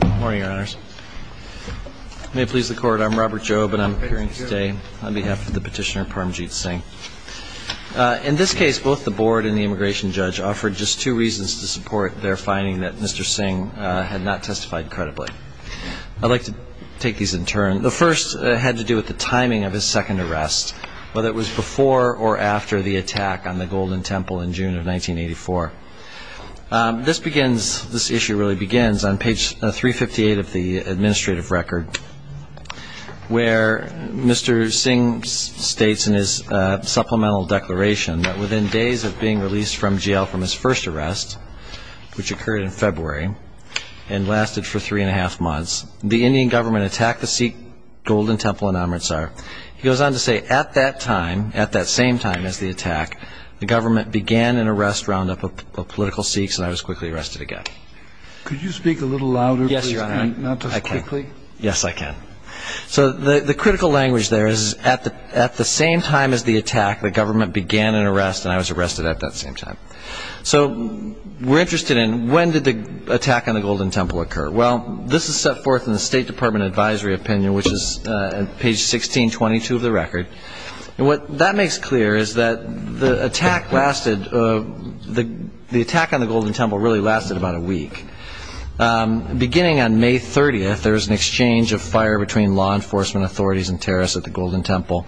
Good morning, your honors. May it please the court, I'm Robert Jobe and I'm appearing today on behalf of the petitioner Parmjeet Singh. In this case, both the board and the immigration judge offered just two reasons to support their finding that Mr. Singh had not testified credibly. I'd like to take these in turn. The first had to do with the timing of his second arrest, whether it was before or after the attack on the Golden Temple in June of 1984. This begins, this issue really begins on page 358 of the administrative record where Mr. Singh states in his supplemental declaration that within days of being released from jail from his first arrest, which occurred in February and lasted for three and a half months, the Indian government attacked the Sikh Golden Temple in Amritsar. He goes on to say, at that time, at that same time as the attack, the government began an arrest roundup of political Sikhs and I was quickly arrested again. Could you speak a little louder? Yes, your honor. I can. Not so quickly? Yes, I can. So the critical language there is at the same time as the attack, the government began an arrest and I was arrested at that same time. So we're interested in when did the attack on the Golden Temple occur? Well, this is set forth in the State Department advisory opinion, which is page 1622 of the record. And what that makes clear is that the attack lasted, the attack on the Golden Temple really lasted about a week. Beginning on May 30th, there was an exchange of fire between law enforcement authorities and terrorists at the Golden Temple.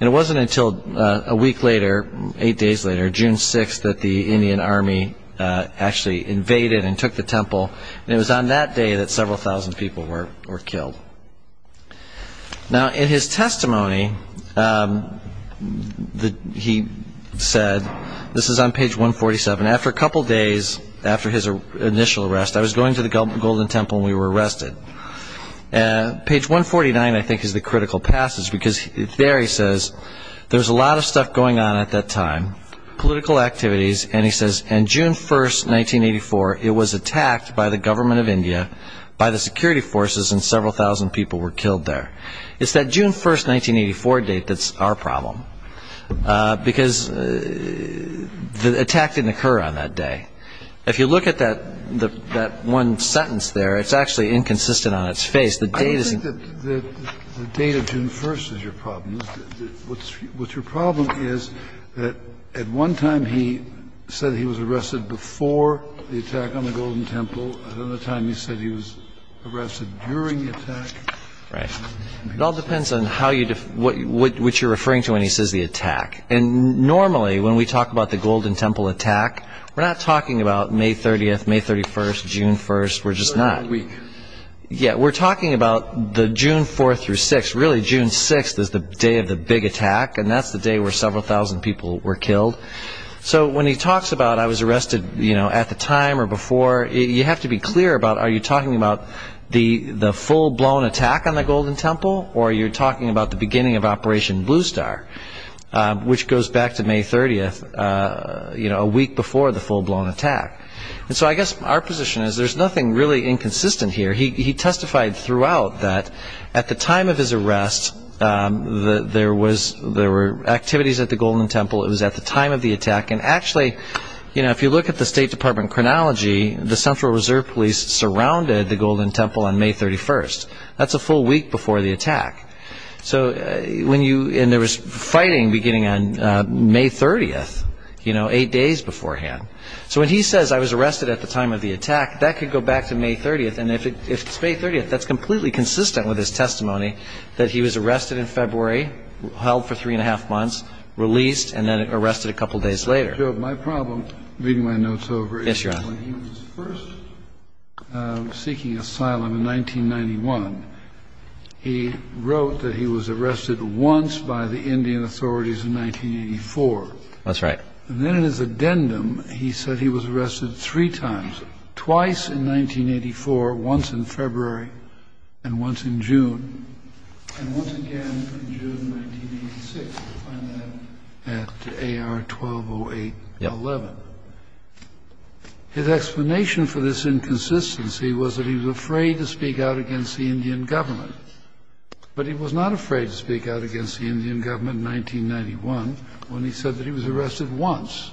And it wasn't until a week later, eight days later, June 6th, that the Indian Army actually invaded and took the temple. And it was on that day that several thousand people were killed. Now, in his testimony, he said, this is on page 147, after a couple days after his initial arrest, I was going to the Golden Temple and we were arrested. Page 149, I think, is the critical passage, because there he says, there was a lot of stuff going on at that time, political activities, and he says, on June 1st, 1984, it was attacked by the government of India, by the security forces, and several thousand people were killed there. It's that June 1st, 1984 date that's our problem, because the attack didn't occur on that day. If you look at that one sentence there, it's actually inconsistent on its face. I don't think that the date of June 1st is your problem. What's your problem is that at one time he said he was arrested before the attack on the Golden Temple, and at another time he said he was arrested during the attack. Right. It all depends on what you're referring to when he says the attack. Normally, when we talk about the Golden Temple attack, we're not talking about May 30th, May 31st, June 1st. We're just not. We're talking about the June 4th through 6th. Really, June 6th is the day of the big attack, and that's the day where several thousand people were killed. When he talks about, I was arrested at the time or before, you have to be clear about, are you talking about the full-blown attack on the Golden Temple, or are you talking about the beginning of Operation Blue Star? Which goes back to May 30th, a week before the full-blown attack. And so I guess our position is there's nothing really inconsistent here. He testified throughout that at the time of his arrest, there were activities at the Golden Temple. It was at the time of the attack. And actually, if you look at the State Department chronology, the Central Reserve Police surrounded the Golden Temple on May 31st. That's a full week before the attack. And there was fighting beginning on May 30th, eight days beforehand. So when he says, I was arrested at the time of the attack, that could go back to May 30th. And if it's May 30th, that's completely consistent with his testimony that he was arrested in February, held for three and a half months, released, and then arrested a couple days later. My problem, reading my notes over, is when he was first seeking asylum in 1991, he wrote that he was arrested once by the Indian authorities in 1984. That's right. And then in his addendum, he said he was arrested three times, twice in 1984, once in February, and once in June, and once again in June 1986. You'll find that at AR-1208-11. His explanation for this inconsistency was that he was afraid to speak out against the Indian government. But he was not afraid to speak out against the Indian government in 1991 when he said that he was arrested once.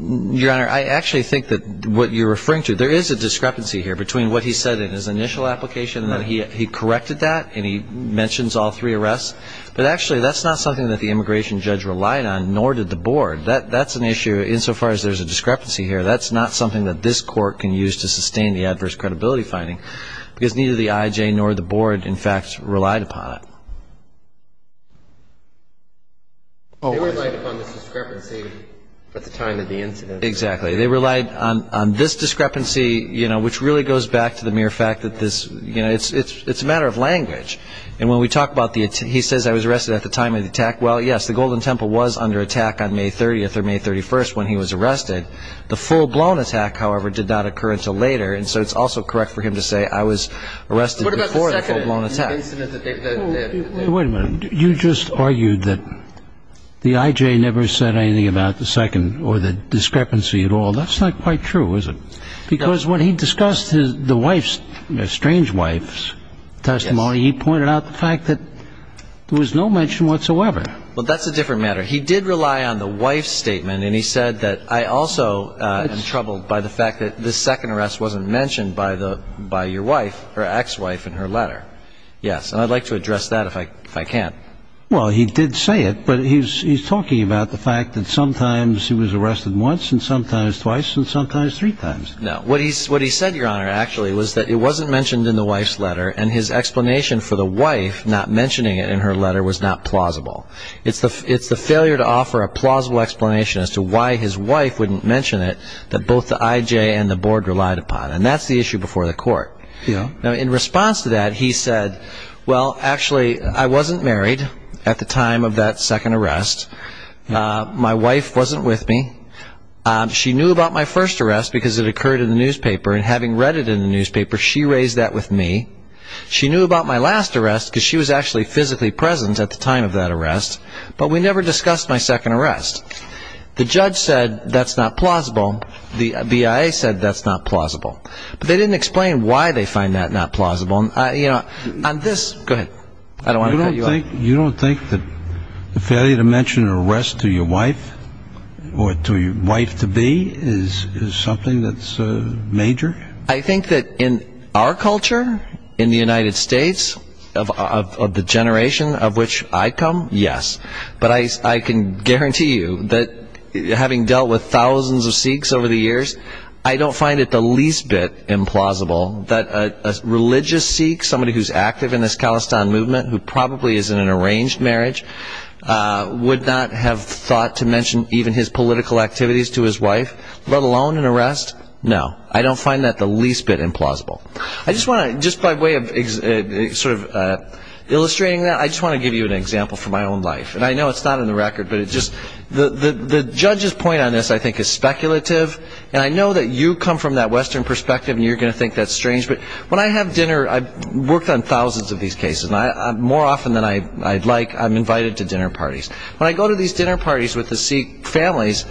Your Honor, I actually think that what you're referring to, there is a discrepancy here between what he said in his initial application and that he corrected that and he mentions all three arrests. But actually, that's not something that the immigration judge relied on, nor did the board. That's an issue insofar as there's a discrepancy here. That's not something that this court can use to sustain the adverse credibility finding, because neither the IJ nor the board, in fact, relied upon it. They relied upon this discrepancy at the time of the incident. Exactly. They relied on this discrepancy, you know, which really goes back to the mere fact that this, you know, it's a matter of language. And when we talk about the attempt, he says, I was arrested at the time of the attack. Well, yes, the Golden Temple was under attack on May 30th or May 31st when he was arrested. The full-blown attack, however, did not occur until later, and so it's also correct for him to say, I was arrested before the full-blown attack. Wait a minute. You just argued that the IJ never said anything about the second or the discrepancy at all. That's not quite true, is it? Because when he discussed the wife's, the estranged wife's testimony, he pointed out the fact that there was no mention whatsoever. Well, that's a different matter. He did rely on the wife's statement, and he said that, I also am troubled by the fact that this second arrest wasn't mentioned by your wife, her ex-wife, in her letter. Yes, and I'd like to address that if I can. Well, he did say it, but he's talking about the fact that sometimes he was arrested once and sometimes twice and sometimes three times. No. What he said, Your Honor, actually, was that it wasn't mentioned in the wife's letter, and his explanation for the wife not mentioning it in her letter was not plausible. It's the failure to offer a plausible explanation as to why his wife wouldn't mention it that both the IJ and the board relied upon, and that's the issue before the court. Yeah. Now, in response to that, he said, Well, actually, I wasn't married at the time of that second arrest. My wife wasn't with me. She knew about my first arrest because it occurred in the newspaper, and having read it in the newspaper, she raised that with me. She knew about my last arrest because she was actually physically present at the time of that arrest, but we never discussed my second arrest. The judge said that's not plausible. The BIA said that's not plausible. But they didn't explain why they find that not plausible. You know, on this, go ahead. I don't want to cut you off. You don't think that the failure to mention an arrest to your wife or to your wife-to-be is something that's major? I think that in our culture, in the United States, of the generation of which I come, yes. But I can guarantee you that having dealt with thousands of Sikhs over the years, I don't find it the least bit implausible that a religious Sikh, somebody who's active in this Khalistan movement who probably is in an arranged marriage, would not have thought to mention even his political activities to his wife, let alone an arrest? No. I don't find that the least bit implausible. I just want to, just by way of sort of illustrating that, I just want to give you an example from my own life. And I know it's not in the record, but it just the judge's point on this, I think, is speculative, and I know that you come from that Western perspective and you're going to think that's strange. But when I have dinner, I've worked on thousands of these cases. More often than I'd like, I'm invited to dinner parties. When I go to these dinner parties with the Sikh families,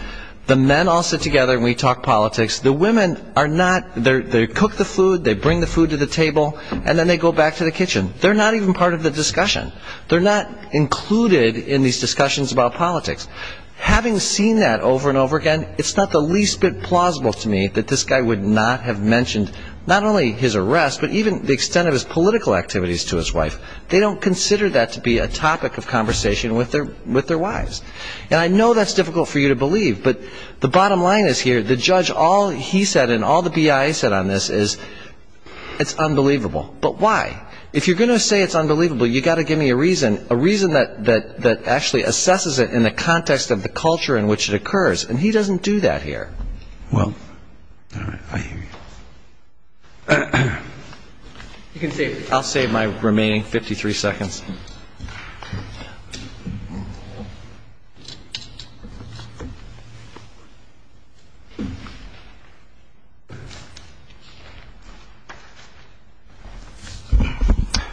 the men all sit together and we talk politics. The women are not, they cook the food, they bring the food to the table, and then they go back to the kitchen. They're not even part of the discussion. They're not included in these discussions about politics. Having seen that over and over again, it's not the least bit plausible to me that this guy would not have mentioned not only his arrest, but even the extent of his political activities to his wife. They don't consider that to be a topic of conversation with their wives. And I know that's difficult for you to believe, but the bottom line is here, the judge, all he said and all the BIA said on this is it's unbelievable. But why? If you're going to say it's unbelievable, you've got to give me a reason, a reason that actually assesses it in the context of the culture in which it occurs. And he doesn't do that here. Well, all right, I hear you. I'll save my remaining 53 seconds.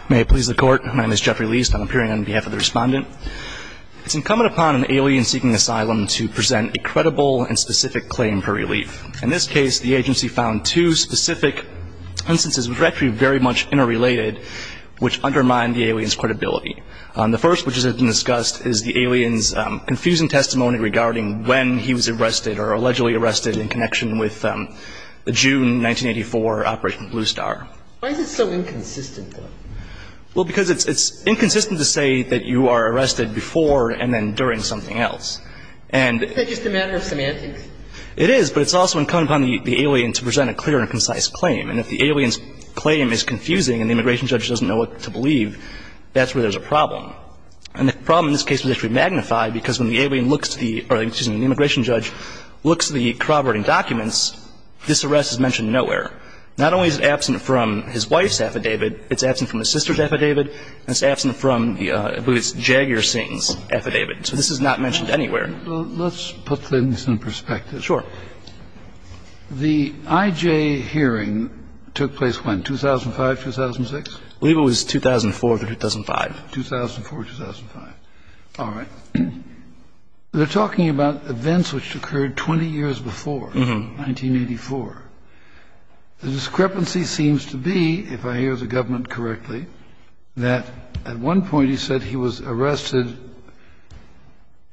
May it please the Court. My name is Jeffrey Liest. I'm appearing on behalf of the Respondent. It's incumbent upon an alien seeking asylum to present a credible and specific claim for relief. In this case, the agency found two specific instances which are actually very much interrelated, which undermine the alien's credibility. The first, which has been discussed, is the alien's confusing testimony regarding when he was arrested or allegedly arrested in connection with the June 1984 Operation Blue Star. Why is it so inconsistent, though? Well, because it's inconsistent to say that you are arrested before and then during something else. And the ---- It's just a matter of semantics. It is, but it's also incumbent upon the alien to present a clear and concise claim. And if the alien's claim is confusing and the immigration judge doesn't know what to believe, that's where there's a problem. And the problem in this case was actually magnified because when the alien looks to the ---- or, excuse me, the immigration judge looks to the corroborating documents, this arrest is mentioned nowhere. Not only is it absent from his wife's affidavit, it's absent from his sister's affidavit, and it's absent from, I believe it's Jagger Singh's affidavit. So this is not mentioned anywhere. Well, let's put things in perspective. Sure. The IJ hearing took place when, 2005, 2006? I believe it was 2004 through 2005. 2004, 2005. All right. They're talking about events which occurred 20 years before, 1984. The discrepancy seems to be, if I hear the government correctly, that at one point he said he was arrested,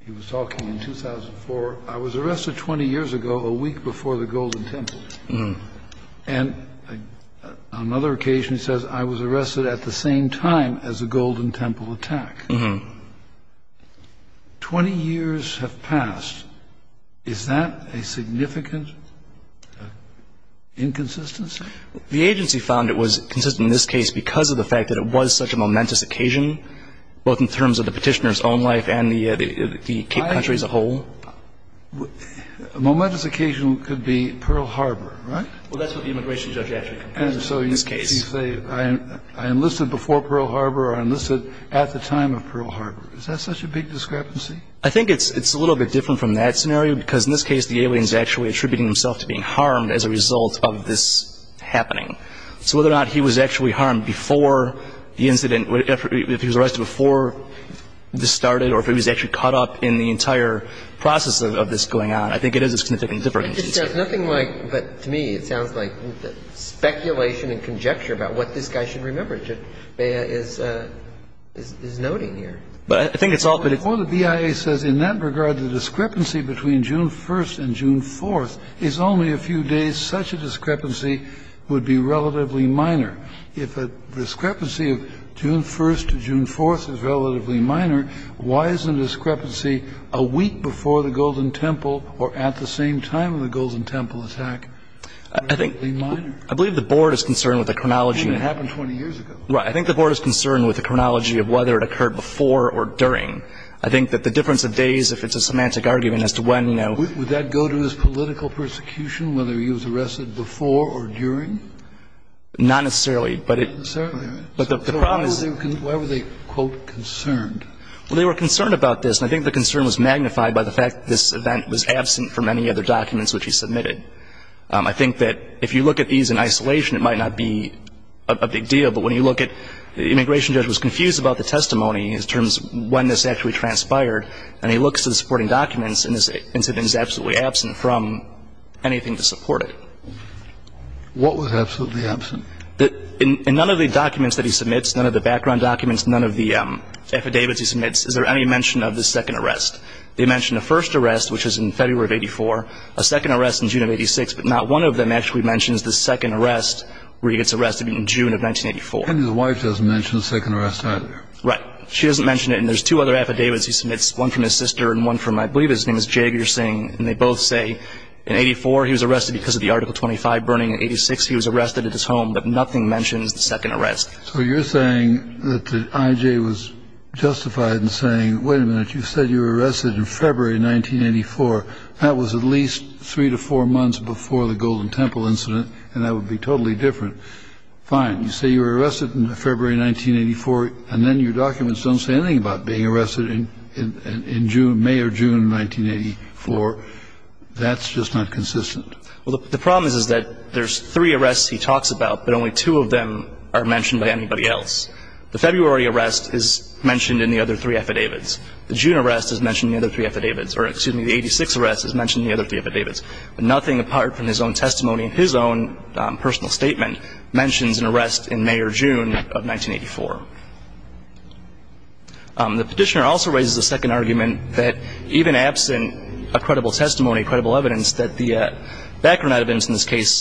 he was talking in 2004, I was arrested 20 years ago, a week before the Golden Temple. And on another occasion he says, I was arrested at the same time as the Golden Temple attack. Mm-hmm. 20 years have passed. Is that a significant inconsistency? The agency found it was consistent in this case because of the fact that it was such a momentous occasion, both in terms of the Petitioner's own life and the country as a whole. A momentous occasion could be Pearl Harbor, right? Well, that's what the immigration judge actually compares it to in this case. I enlisted before Pearl Harbor or I enlisted at the time of Pearl Harbor. Is that such a big discrepancy? I think it's a little bit different from that scenario because in this case the alien is actually attributing himself to being harmed as a result of this happening. So whether or not he was actually harmed before the incident, if he was arrested before this started or if he was actually caught up in the entire process of this going on, I think it is a significant difference. It just sounds nothing like, but to me it sounds like speculation and conjecture about what this guy should remember. Jeff Beah is noting here. But I think it's all... Well, the BIA says in that regard the discrepancy between June 1st and June 4th is only a few days. Such a discrepancy would be relatively minor. If a discrepancy of June 1st to June 4th is relatively minor, why is the discrepancy a week before the Golden Temple or at the same time of the Golden Temple attack relatively minor? I believe the board is concerned with the chronology. I mean, it happened 20 years ago. Right. I think the board is concerned with the chronology of whether it occurred before or during. I think that the difference of days, if it's a semantic argument as to when, you know... Would that go to his political persecution, whether he was arrested before or during? Not necessarily, but it... Not necessarily, right? But the problem is... So why were they, quote, concerned? Well, they were concerned about this, and I think the concern was magnified by the fact that this event was absent from any other documents which he submitted. I think that if you look at these in isolation, it might not be a big deal, but when you look at the immigration judge was confused about the testimony in terms of when this actually transpired, and he looks at the supporting documents, and this incident is absolutely absent from anything to support it. What was absolutely absent? In none of the documents that he submits, none of the background documents, none of the affidavits he submits, is there any mention of this second arrest? They mention the first arrest, which was in February of 84, a second arrest in June of 86, but not one of them actually mentions the second arrest where he gets arrested in June of 1984. And his wife doesn't mention the second arrest, either. Right. She doesn't mention it, and there's two other affidavits he submits, one from his sister and one from, I believe his name is Jagir Singh, and they both say in 84 he was arrested because of the Article 25 burning, in 86 he was arrested at his home, but nothing mentions the second arrest. So you're saying that the I.J. was justified in saying, wait a minute, you said you were arrested in February of 1984. That was at least three to four months before the Golden Temple incident, and that would be totally different. Fine. You say you were arrested in February of 1984, and then your documents don't say anything about being arrested in June, May or June of 1984. That's just not consistent. Well, the problem is that there's three arrests he talks about, but only two of them are mentioned by anybody else. The February arrest is mentioned in the other three affidavits. The June arrest is mentioned in the other three affidavits, or excuse me, the 86 arrest is mentioned in the other three affidavits. But nothing apart from his own testimony and his own personal statement mentions an arrest in May or June of 1984. The Petitioner also raises a second argument that even absent a credible testimony, a credible evidence, that the background evidence in this case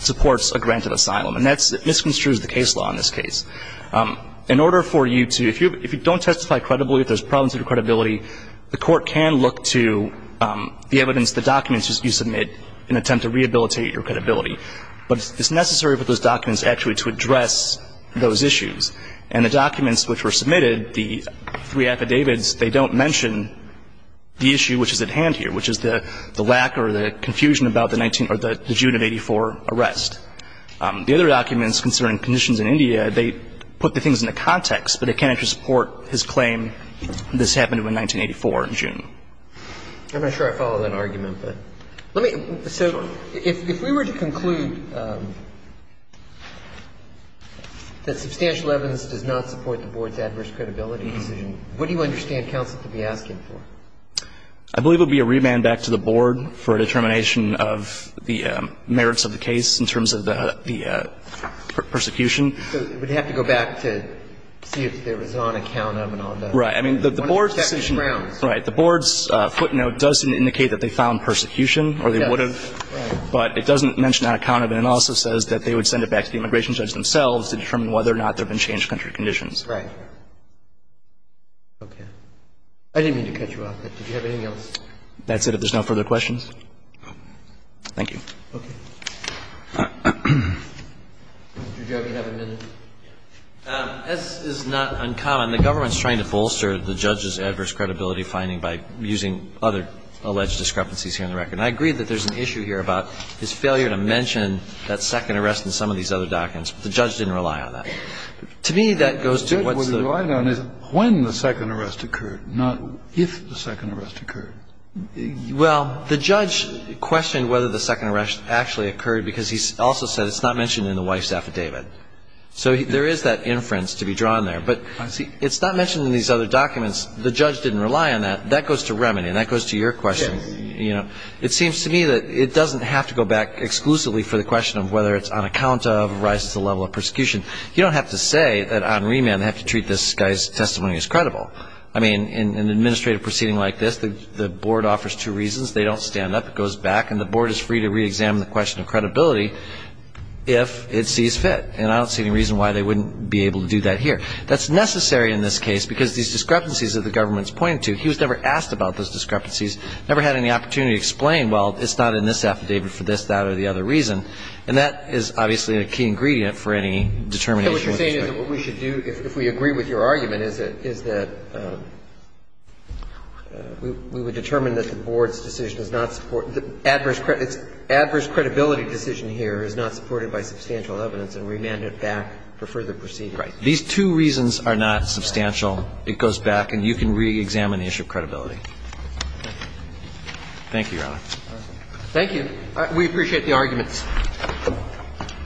supports a grant of asylum. And that misconstrues the case law in this case. In order for you to – if you don't testify credibly, if there's problems with your credibility, the Court can look to the evidence, the documents you submit in an attempt to rehabilitate your credibility. But it's necessary for those documents actually to address those issues. And the documents which were submitted, the three affidavits, they don't mention the issue which is at hand here, which is the lack or the confusion about the June of 1984 arrest. The other documents concerning conditions in India, they put the things into context, but they can't actually support his claim this happened in 1984 in June. I'm not sure I follow that argument, but let me – so if we were to conclude that substantial evidence does not support the Board's adverse credibility decision, what do you understand counsel to be asking for? I believe it would be a remand back to the Board for a determination of the merits of the case in terms of the persecution. So we'd have to go back to see if there was an on-account of and on the grounds. Right. I mean, the Board's decision – right. The Board's footnote does indicate that they found persecution, or they would have. Yes. Right. But it doesn't mention an on-account of, and it also says that they would send it back to the immigration judge themselves to determine whether or not there have been changed country conditions. Right. Okay. I didn't mean to cut you off. Did you have anything else? That's it. If there's no further questions. Thank you. Okay. Mr. Judge, you have a minute. As is not uncommon, the government's trying to bolster the judge's adverse credibility finding by using other alleged discrepancies here in the record. And I agree that there's an issue here about his failure to mention that second arrest in some of these other documents, but the judge didn't rely on that. To me, that goes to what's the – What I don't know is when the second arrest occurred, not if the second arrest occurred. Well, the judge questioned whether the second arrest actually occurred because he also said it's not mentioned in the wife's affidavit. So there is that inference to be drawn there. I see. But it's not mentioned in these other documents. The judge didn't rely on that. That goes to remedy, and that goes to your question. Yes. You know, it seems to me that it doesn't have to go back exclusively for the question of whether it's on account of or rises to the level of persecution. You don't have to say that on remand they have to treat this guy's testimony as credible. I mean, in an administrative proceeding like this, the board offers two reasons. They don't stand up. It goes back, and the board is free to reexamine the question of credibility if it sees fit. And I don't see any reason why they wouldn't be able to do that here. That's necessary in this case because these discrepancies that the government is pointing to, he was never asked about those discrepancies, never had any opportunity to explain, well, it's not in this affidavit for this, that, or the other reason. And that is obviously a key ingredient for any determination. So what you're saying is that what we should do, if we agree with your argument, is that we would determine that the board's decision does not support, adverse credibility, its adverse credibility decision here is not supported by substantial evidence and remand it back for further proceeding. Right. These two reasons are not substantial. It goes back, and you can reexamine the issue of credibility. Thank you, Your Honor. Thank you. We appreciate the arguments. Thank you.